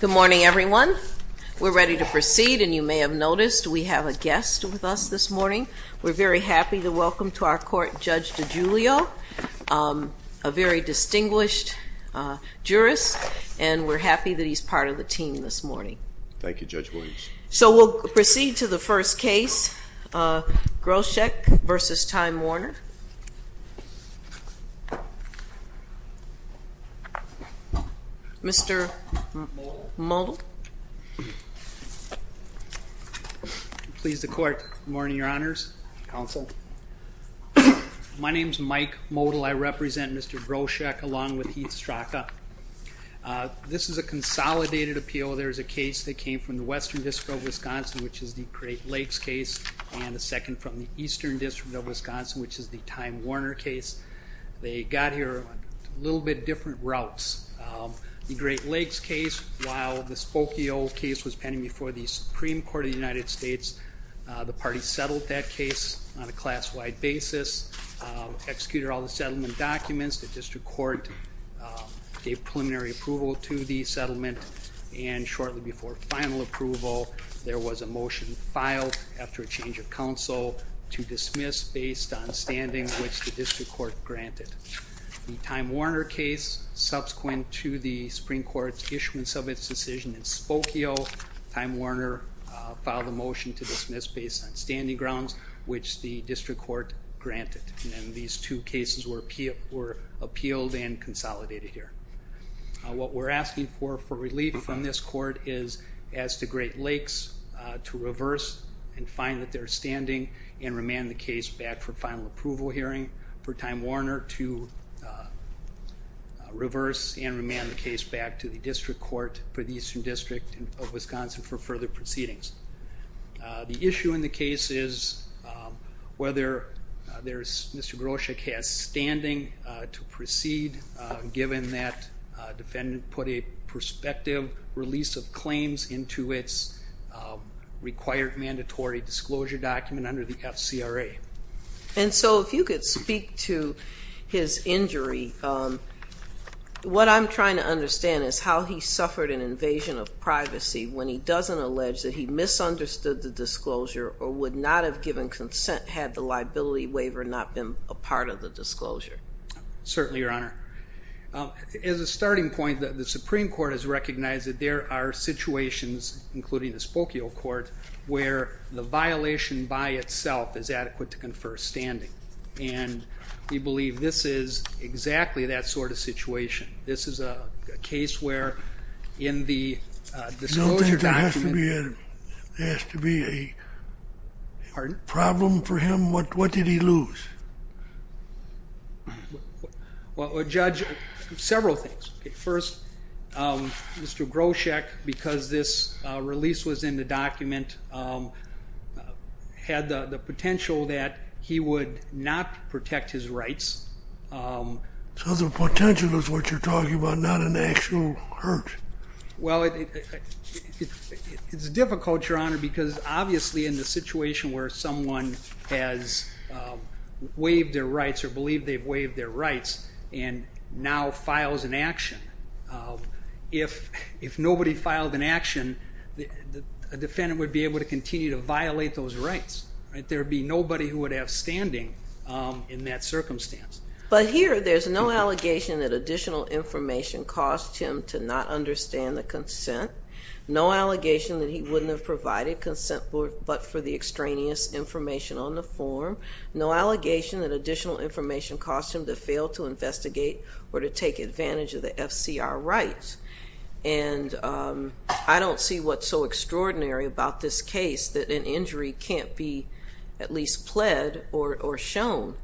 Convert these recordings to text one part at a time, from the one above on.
Good morning, everyone. We're ready to proceed, and you may have noticed we have a guest with us this morning. We're very happy to welcome to our court Judge DiGiulio, a very distinguished jurist, and we're happy that he's part of the team this morning. Thank you, Judge Williams. So we'll proceed to the first case, Groshek v. Time Warner. Mr. Modell. Please, the court. Good morning, Your Honors. Counsel. My name is Mike Modell. I represent Mr. Groshek along with Heath Strzoka. This is a consolidated appeal. There's a case that came from the Western District of Wisconsin, which is the Great Lakes case, and a second from the Eastern District of Wisconsin, which is the Time Warner case. They got here on a little bit different routes. The Great Lakes case, while the Spokio case was pending before the Supreme Court of the United States, the party settled that case on a class-wide basis, executed all the settlement documents. The district court gave preliminary approval to the settlement, and shortly before final approval, there was a motion filed after a change of counsel to dismiss based on standings which the district court granted. The Time Warner case, subsequent to the Supreme Court's issuance of its decision in Spokio, Time Warner filed a motion to dismiss based on standing grounds which the district court granted. And these two cases were appealed and consolidated here. What we're asking for relief from this court is as to Great Lakes to reverse and find that they're standing and remand the case back for final approval hearing, for Time Warner to reverse and remand the case back to the district court for the Eastern District of Wisconsin for further proceedings. The issue in the case is whether Mr. Groshek has standing to proceed, given that a defendant put a prospective release of claims into its required mandatory disclosure document under the FCRA. And so if you could speak to his injury, what I'm trying to understand is how he suffered an invasion of privacy when he doesn't allege that he misunderstood the disclosure or would not have given consent had the liability waiver not been a part of the disclosure. Certainly, Your Honor. As a starting point, the Supreme Court has recognized that there are situations, including the Spokio court, where the violation by itself is adequate to confer standing. And we believe this is exactly that sort of situation. This is a case where in the disclosure document. There has to be a problem for him? What did he lose? Well, Judge, several things. First, Mr. Groshek, because this release was in the document, had the potential that he would not protect his rights. So the potential is what you're talking about, not an actual hurt? Well, it's difficult, Your Honor, because obviously in the situation where someone has waived their rights or believed they've waived their rights and now files an action, if nobody filed an action, a defendant would be able to continue to violate those rights. There would be nobody who would have standing in that circumstance. But here there's no allegation that additional information caused him to not understand the consent, no allegation that he wouldn't have provided consent but for the extraneous information on the form, no allegation that additional information caused him to fail to investigate or to take advantage of the FCR rights. And I don't see what's so extraordinary about this case that an injury can't be at least pled or shown.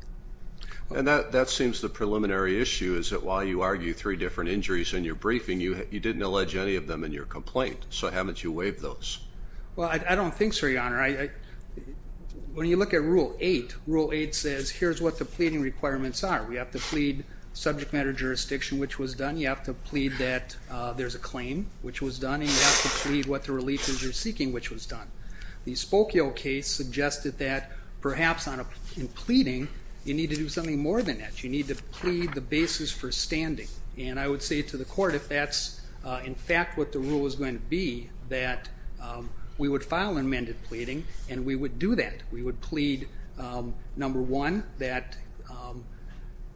And that seems the preliminary issue is that while you argue three different injuries in your briefing, you didn't allege any of them in your complaint. So haven't you waived those? Well, I don't think so, Your Honor. When you look at Rule 8, Rule 8 says here's what the pleading requirements are. We have to plead subject matter jurisdiction, which was done. You have to plead that there's a claim, which was done. And you have to plead what the relief is you're seeking, which was done. The Spokio case suggested that perhaps in pleading you need to do something more than that. You need to plead the basis for standing. And I would say to the court, if that's in fact what the rule was going to be, that we would file amended pleading and we would do that. We would plead, number one, that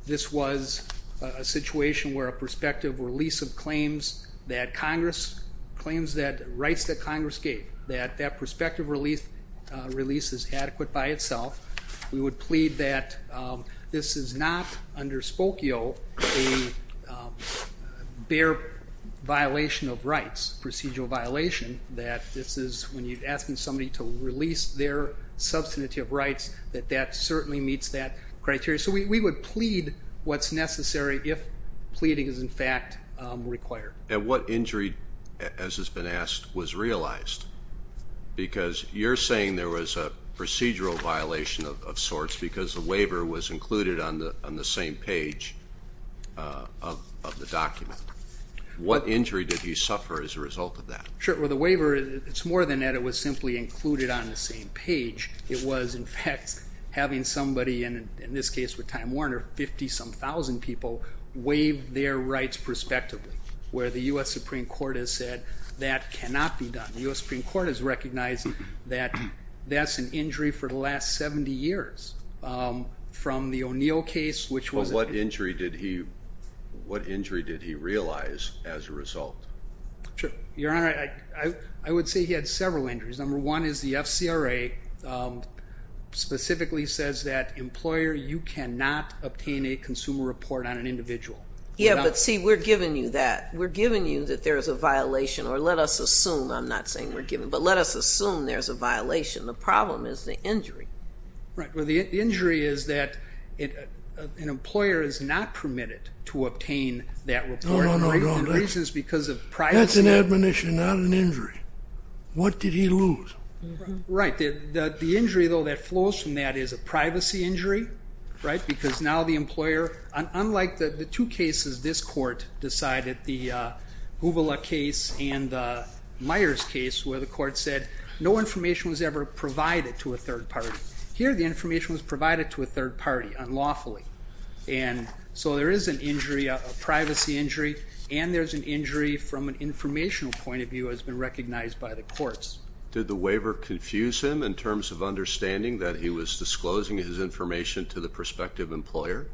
this was a situation where a prospective release of claims that Congress, claims that rights that Congress gave, that that prospective release is adequate by itself. We would plead that this is not under Spokio a bare violation of rights, procedural violation, that this is when you're asking somebody to release their substantive rights, that that certainly meets that criteria. So we would plead what's necessary if pleading is, in fact, required. And what injury, as has been asked, was realized? Because you're saying there was a procedural violation of sorts because the waiver was included on the same page of the document. What injury did you suffer as a result of that? Sure. Well, the waiver, it's more than that. It was simply included on the same page. It was, in fact, having somebody, and in this case with Time Warner, 50-some thousand people, waive their rights prospectively, where the U.S. Supreme Court has said that cannot be done. The U.S. Supreme Court has recognized that that's an injury for the last 70 years. From the O'Neill case, which was a- But what injury did he realize as a result? Sure. Your Honor, I would say he had several injuries. Number one is the FCRA specifically says that, employer, you cannot obtain a consumer report on an individual. Yeah, but see, we're giving you that. We're giving you that there is a violation, or let us assume, I'm not saying we're giving, but let us assume there's a violation. The problem is the injury. Right. Well, the injury is that an employer is not permitted to obtain that report. No, no, no. The reason is because of privacy. That's an admonition, not an injury. What did he lose? Right. The injury, though, that flows from that is a privacy injury, right, because now the employer, unlike the two cases this court decided, the Gubula case and the Myers case, where the court said no information was ever provided to a third party, here the information was provided to a third party unlawfully. And so there is an injury, a privacy injury, and there's an injury from an informational point of view has been recognized by the courts. Did the waiver confuse him in terms of understanding that he was disclosing his information to the prospective employer?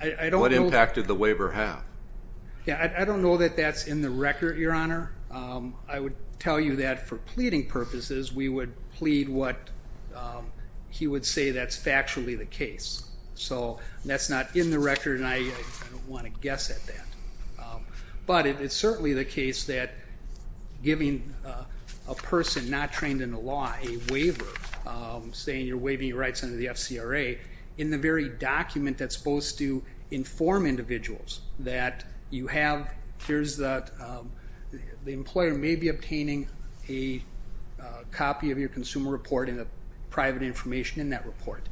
I don't know. What impact did the waiver have? Yeah, I don't know that that's in the record, Your Honor. I would tell you that for pleading purposes, we would plead what he would say that's factually the case. So that's not in the record, and I don't want to guess at that. But it's certainly the case that giving a person not trained in the law a waiver, saying you're waiving your rights under the FCRA, in the very document that's supposed to inform individuals that you have, here's the employer may be obtaining a copy of your consumer report and the private information in that report.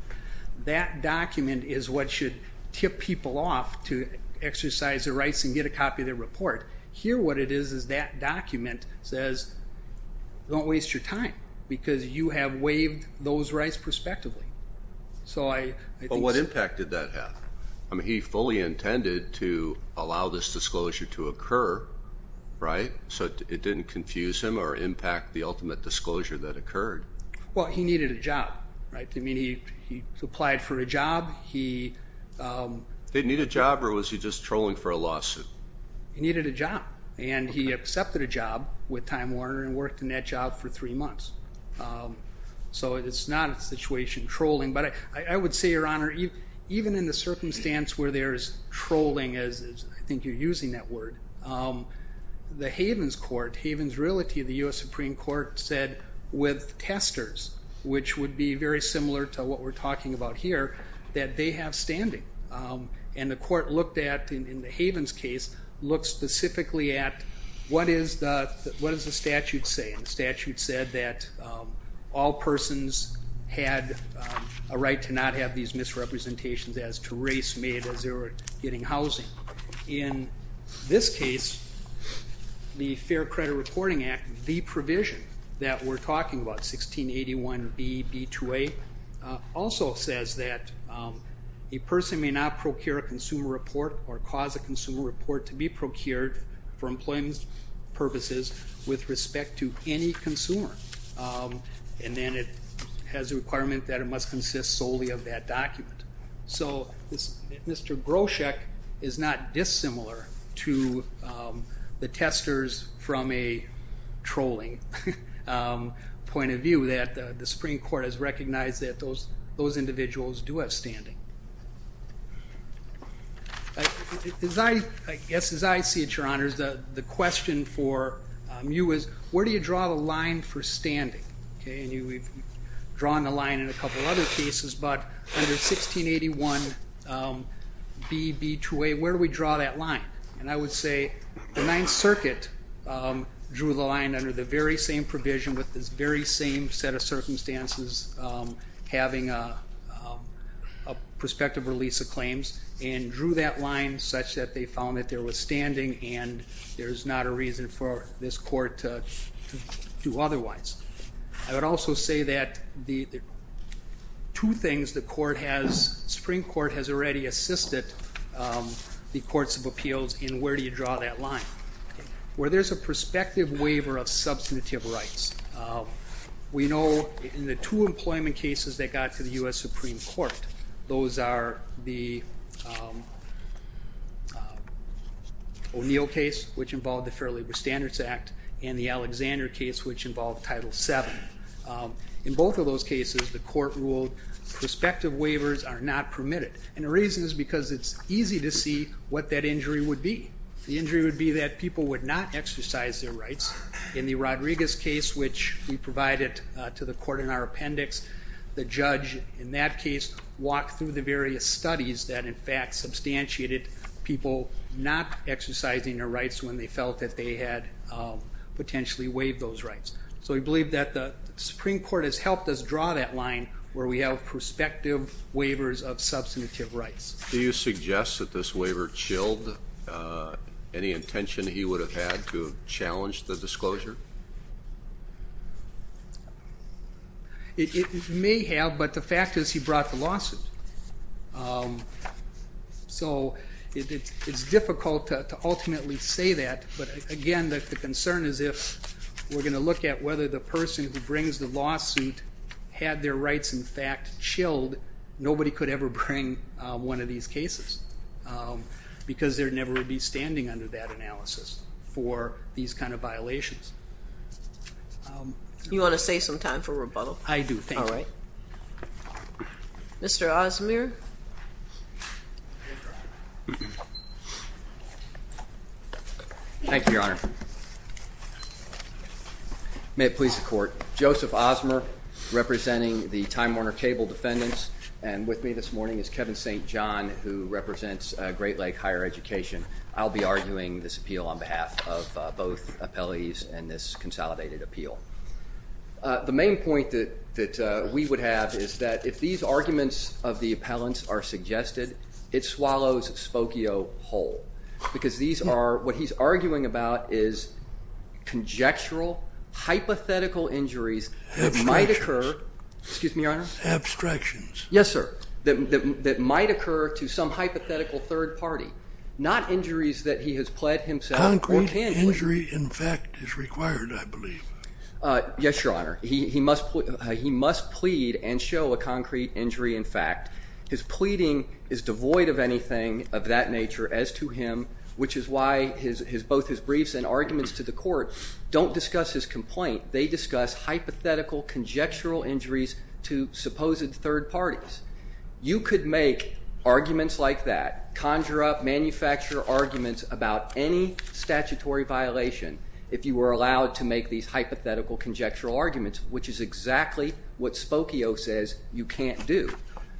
That document is what should tip people off to exercise their rights and get a copy of their report. Here what it is is that document says don't waste your time because you have waived those rights prospectively. So I think so. But what impact did that have? I mean, he fully intended to allow this disclosure to occur, right? So it didn't confuse him or impact the ultimate disclosure that occurred. Well, he needed a job, right? I mean, he applied for a job. He needed a job, or was he just trolling for a lawsuit? He needed a job, and he accepted a job with Time Warner and worked in that job for three months. So it's not a situation trolling. But I would say, Your Honor, even in the circumstance where there is trolling, as I think you're using that word, the Havens Court, Havens Relative, the U.S. Supreme Court said with testers, which would be very similar to what we're talking about here, that they have standing. And the court looked at, in the Havens case, looked specifically at what does the statute say? And the statute said that all persons had a right to not have these misrepresentations as to race made as they were getting housing. In this case, the Fair Credit Reporting Act, the provision that we're talking about, 1681B.B.2.A., also says that a person may not procure a consumer report or cause a consumer report to be procured for employment purposes with respect to any consumer. And then it has a requirement that it must consist solely of that document. So Mr. Groshek is not dissimilar to the testers from a trolling point of view, that the Supreme Court has recognized that those individuals do have standing. I guess as I see it, Your Honors, the question for you is where do you draw the line for standing? We've drawn the line in a couple of other cases, but under 1681B.B.2.A., where do we draw that line? And I would say the Ninth Circuit drew the line under the very same provision with this very same set of circumstances having a prospective release of claims and drew that line such that they found that there was standing and there's not a reason for this court to do otherwise. I would also say that two things the Supreme Court has already assisted the Courts of Appeals in where do you draw that line. Where there's a prospective waiver of substantive rights. We know in the two employment cases that got to the U.S. Supreme Court, those are the O'Neill case, which involved the Fair Labor Standards Act, and the Alexander case, which involved Title VII. In both of those cases, the court ruled prospective waivers are not permitted. And the reason is because it's easy to see what that injury would be. The injury would be that people would not exercise their rights. In the Rodriguez case, which we provided to the court in our appendix, the judge in that case walked through the various studies that, in fact, substantiated people not exercising their rights when they felt that they had potentially waived those rights. So we believe that the Supreme Court has helped us draw that line where we have prospective waivers of substantive rights. Do you suggest that this waiver chilled any intention that he would have had to challenge the disclosure? It may have, but the fact is he brought the lawsuit. So it's difficult to ultimately say that, but, again, the concern is if we're going to look at whether the person who brings the lawsuit had their rights, in fact, chilled, nobody could ever bring one of these cases because there never would be You want to save some time for rebuttal? I do, thank you. All right. Mr. Osmer? Thank you, Your Honor. May it please the Court. Joseph Osmer, representing the Time Warner Cable defendants, and with me this morning is Kevin St. John, who represents Great Lake Higher Education. I'll be arguing this appeal on behalf of both appellees and this consolidated appeal. The main point that we would have is that if these arguments of the appellants are suggested, it swallows Spokio whole, because what he's arguing about is conjectural, hypothetical injuries that might occur. Abstractions. Excuse me, Your Honor? Abstractions. Yes, sir, that might occur to some hypothetical third party, not injuries that he has pled himself. Concrete injury in fact is required, I believe. Yes, Your Honor. He must plead and show a concrete injury in fact. His pleading is devoid of anything of that nature as to him, which is why both his briefs and arguments to the court don't discuss his complaint. They discuss hypothetical, conjectural injuries to supposed third parties. You could make arguments like that, conjure up, manufacture arguments about any statutory violation if you were allowed to make these hypothetical, conjectural arguments, which is exactly what Spokio says you can't do.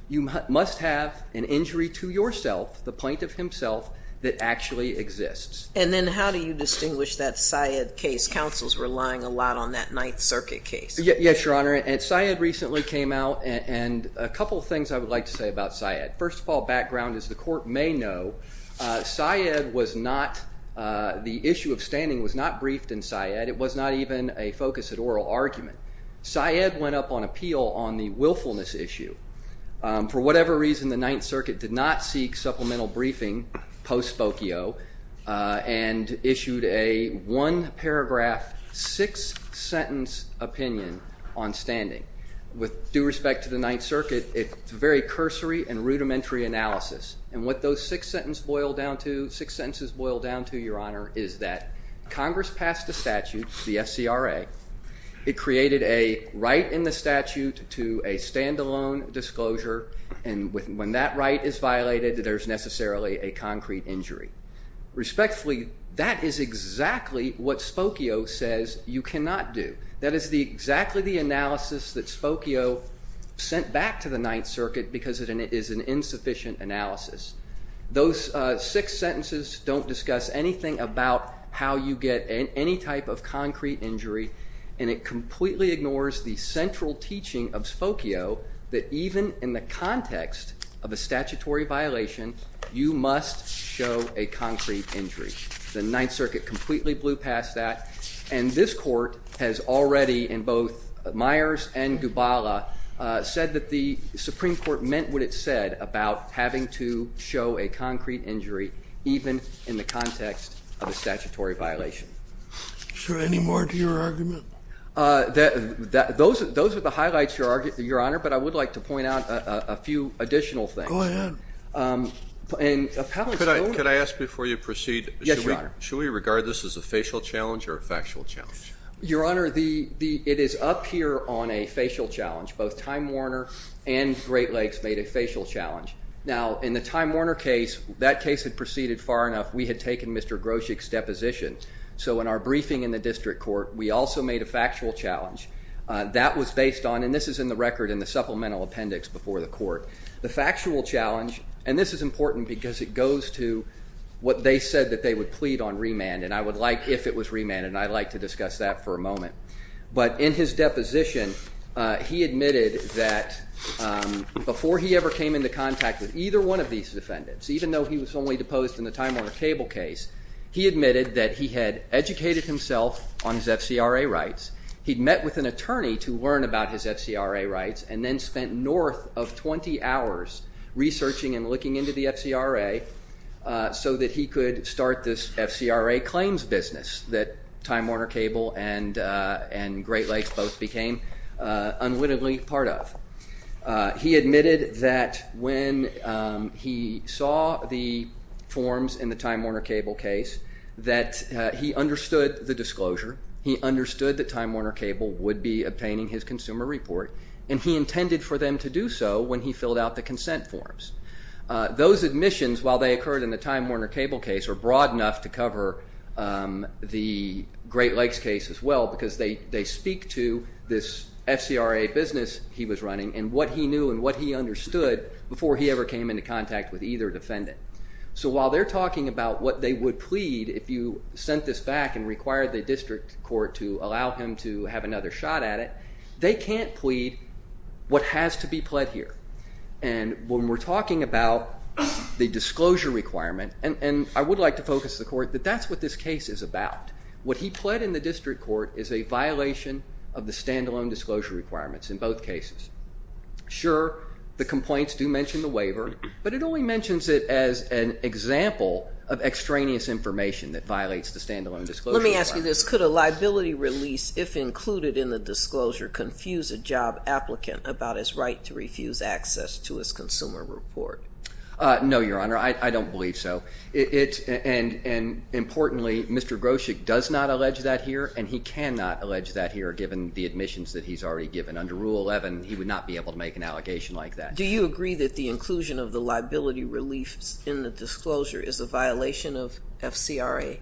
You must have an injury to yourself, the plaintiff himself, that actually exists. And then how do you distinguish that Syed case? Counsel's relying a lot on that Ninth Circuit case. Yes, Your Honor. Syed recently came out and a couple of things I would like to say about Syed. First of all, background, as the court may know, Syed was not, the issue of standing was not briefed in Syed. It was not even a focus at oral argument. Syed went up on appeal on the willfulness issue. For whatever reason, the Ninth Circuit did not seek supplemental briefing post Spokio and issued a one-paragraph, six-sentence opinion on standing. With due respect to the Ninth Circuit, it's very cursory and rudimentary analysis. And what those six sentences boil down to, Your Honor, is that Congress passed a statute, the SCRA. It created a right in the statute to a stand-alone disclosure, and when that right is violated, there's necessarily a concrete injury. Respectfully, that is exactly what Spokio says you cannot do. That is exactly the analysis that Spokio sent back to the Ninth Circuit because it is an insufficient analysis. Those six sentences don't discuss anything about how you get any type of concrete injury, and it completely ignores the central teaching of Spokio that even in the context of a statutory violation, you must show a concrete injury. The Ninth Circuit completely blew past that, and this court has already in both Myers and Gubala said that the Supreme Court meant what it said about having to show a concrete injury even in the context of a statutory violation. Is there any more to your argument? Those are the highlights, Your Honor, but I would like to point out a few additional things. Go ahead. Could I ask before you proceed? Yes, Your Honor. Should we regard this as a facial challenge or a factual challenge? Your Honor, it is up here on a facial challenge. Both Time Warner and Great Lakes made a facial challenge. Now, in the Time Warner case, that case had proceeded far enough. We had taken Mr. Groshek's deposition. So in our briefing in the district court, we also made a factual challenge. And this is important because it goes to what they said that they would plead on remand, and I would like if it was remand, and I'd like to discuss that for a moment. But in his deposition, he admitted that before he ever came into contact with either one of these defendants, even though he was only deposed in the Time Warner Cable case, he admitted that he had educated himself on his FCRA rights. He'd met with an attorney to learn about his FCRA rights and then spent north of 20 hours researching and looking into the FCRA so that he could start this FCRA claims business that Time Warner Cable and Great Lakes both became unwittingly part of. He admitted that when he saw the forms in the Time Warner Cable case, that he understood the disclosure. He understood that Time Warner Cable would be obtaining his consumer report, and he intended for them to do so when he filled out the consent forms. Those admissions, while they occurred in the Time Warner Cable case, were broad enough to cover the Great Lakes case as well because they speak to this FCRA business he was running and what he knew and what he understood before he ever came into contact with either defendant. So while they're talking about what they would plead if you sent this back and required the district court to allow him to have another shot at it, they can't plead what has to be pled here. And when we're talking about the disclosure requirement, and I would like to focus the court that that's what this case is about. What he pled in the district court is a violation of the standalone disclosure requirements in both cases. Sure, the complaints do mention the waiver, but it only mentions it as an example of extraneous information that violates the standalone disclosure requirement. Let me ask you this. Could a liability release, if included in the disclosure, confuse a job applicant about his right to refuse access to his consumer report? No, Your Honor. I don't believe so. And importantly, Mr. Groshek does not allege that here, and he cannot allege that here given the admissions that he's already given. Under Rule 11, he would not be able to make an allegation like that. Do you agree that the inclusion of the liability relief in the disclosure is a violation of FCRA?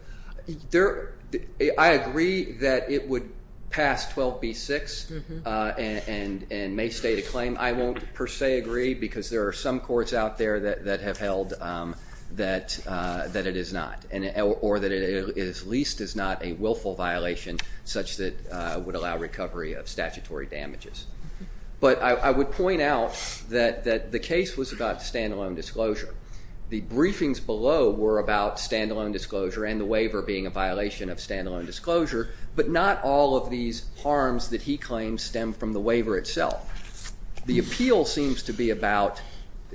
I agree that it would pass 12b-6 and may state a claim. I won't per se agree because there are some courts out there that have held that it is not, or that it at least is not a willful violation such that would allow recovery of statutory damages. But I would point out that the case was about standalone disclosure. The briefings below were about standalone disclosure and the waiver being a violation of standalone disclosure, but not all of these harms that he claims stem from the waiver itself. The appeal seems to be about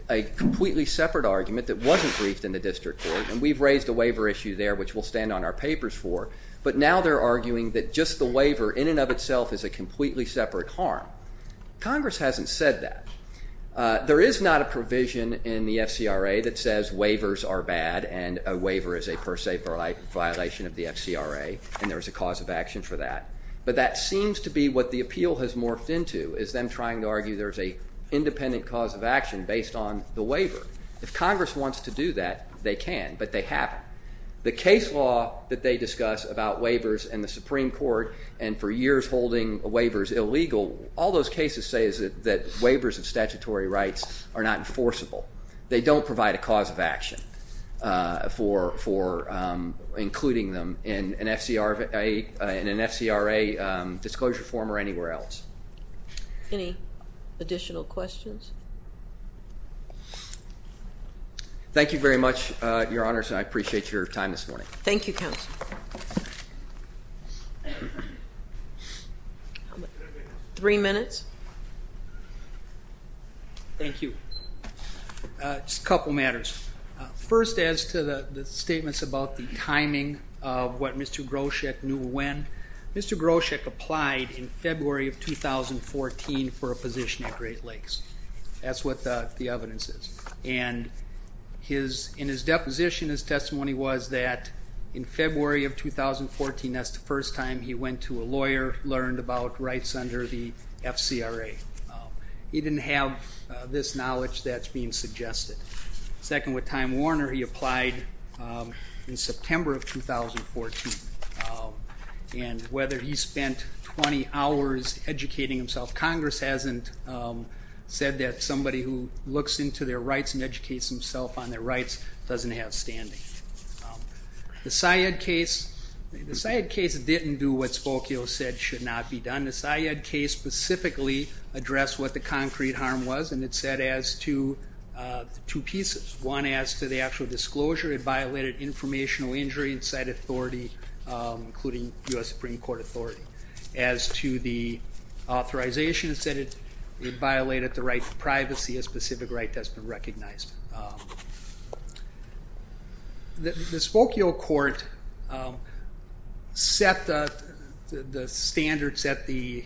a completely separate argument that wasn't briefed in the district court, and we've raised a waiver issue there which we'll stand on our papers for, but now they're arguing that just the waiver in and of itself is a completely separate harm. Congress hasn't said that. There is not a provision in the FCRA that says waivers are bad and a waiver is a per se violation of the FCRA, and there is a cause of action for that. But that seems to be what the appeal has morphed into, is them trying to argue there's an independent cause of action based on the waiver. If Congress wants to do that, they can, but they haven't. The case law that they discuss about waivers in the Supreme Court and for years holding waivers illegal, all those cases say is that waivers of statutory rights are not enforceable. They don't provide a cause of action for including them in an FCRA disclosure form or anywhere else. Any additional questions? Thank you very much, Your Honors, and I appreciate your time this morning. Thank you, Counsel. Three minutes. Thank you. Just a couple matters. First, as to the statements about the timing of what Mr. Groshek knew when, Mr. Groshek applied in February of 2014 for a position at Great Lakes. That's what the evidence is. And in his deposition, his testimony was that in February of 2014, that's the first time he went to a lawyer, learned about rights under the FCRA. He didn't have this knowledge that's being suggested. Second, with Time Warner, he applied in September of 2014. And whether he spent 20 hours educating himself, Congress hasn't said that somebody who looks into their rights and educates themselves on their rights doesn't have standing. The Syed case didn't do what Spokio said should not be done. The Syed case specifically addressed what the concrete harm was, and it said as to two pieces. One, as to the actual disclosure, it violated informational injury inside authority, including U.S. Supreme Court authority. As to the authorization, it said it violated the right to privacy, a specific right that's been recognized. The Spokio court set the standards at the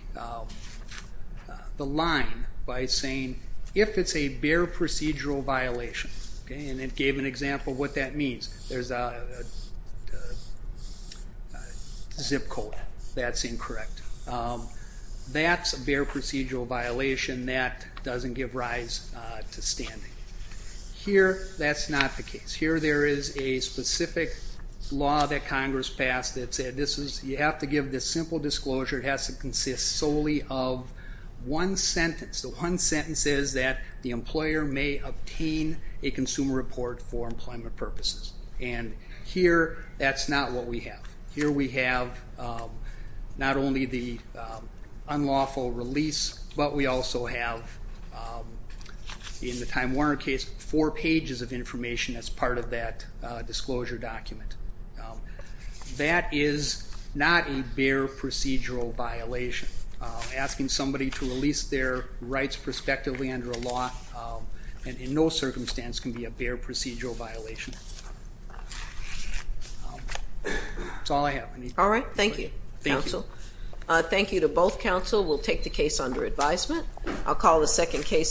line by saying if it's a bare procedural violation, and it gave an example of what that means. There's a zip code that's incorrect. That's a bare procedural violation. That doesn't give rise to standing. Here, that's not the case. Here there is a specific law that Congress passed that said you have to give this simple disclosure. It has to consist solely of one sentence. The one sentence is that the employer may obtain a consumer report for employment purposes. And here that's not what we have. Here we have not only the unlawful release, but we also have, in the Time Warner case, four pages of information as part of that disclosure document. That is not a bare procedural violation. Asking somebody to release their rights prospectively under a law, in no circumstance, can be a bare procedural violation. That's all I have. All right. Thank you, counsel. Thank you. Thank you to both counsel. We'll take the case under advisement. I'll call the second case.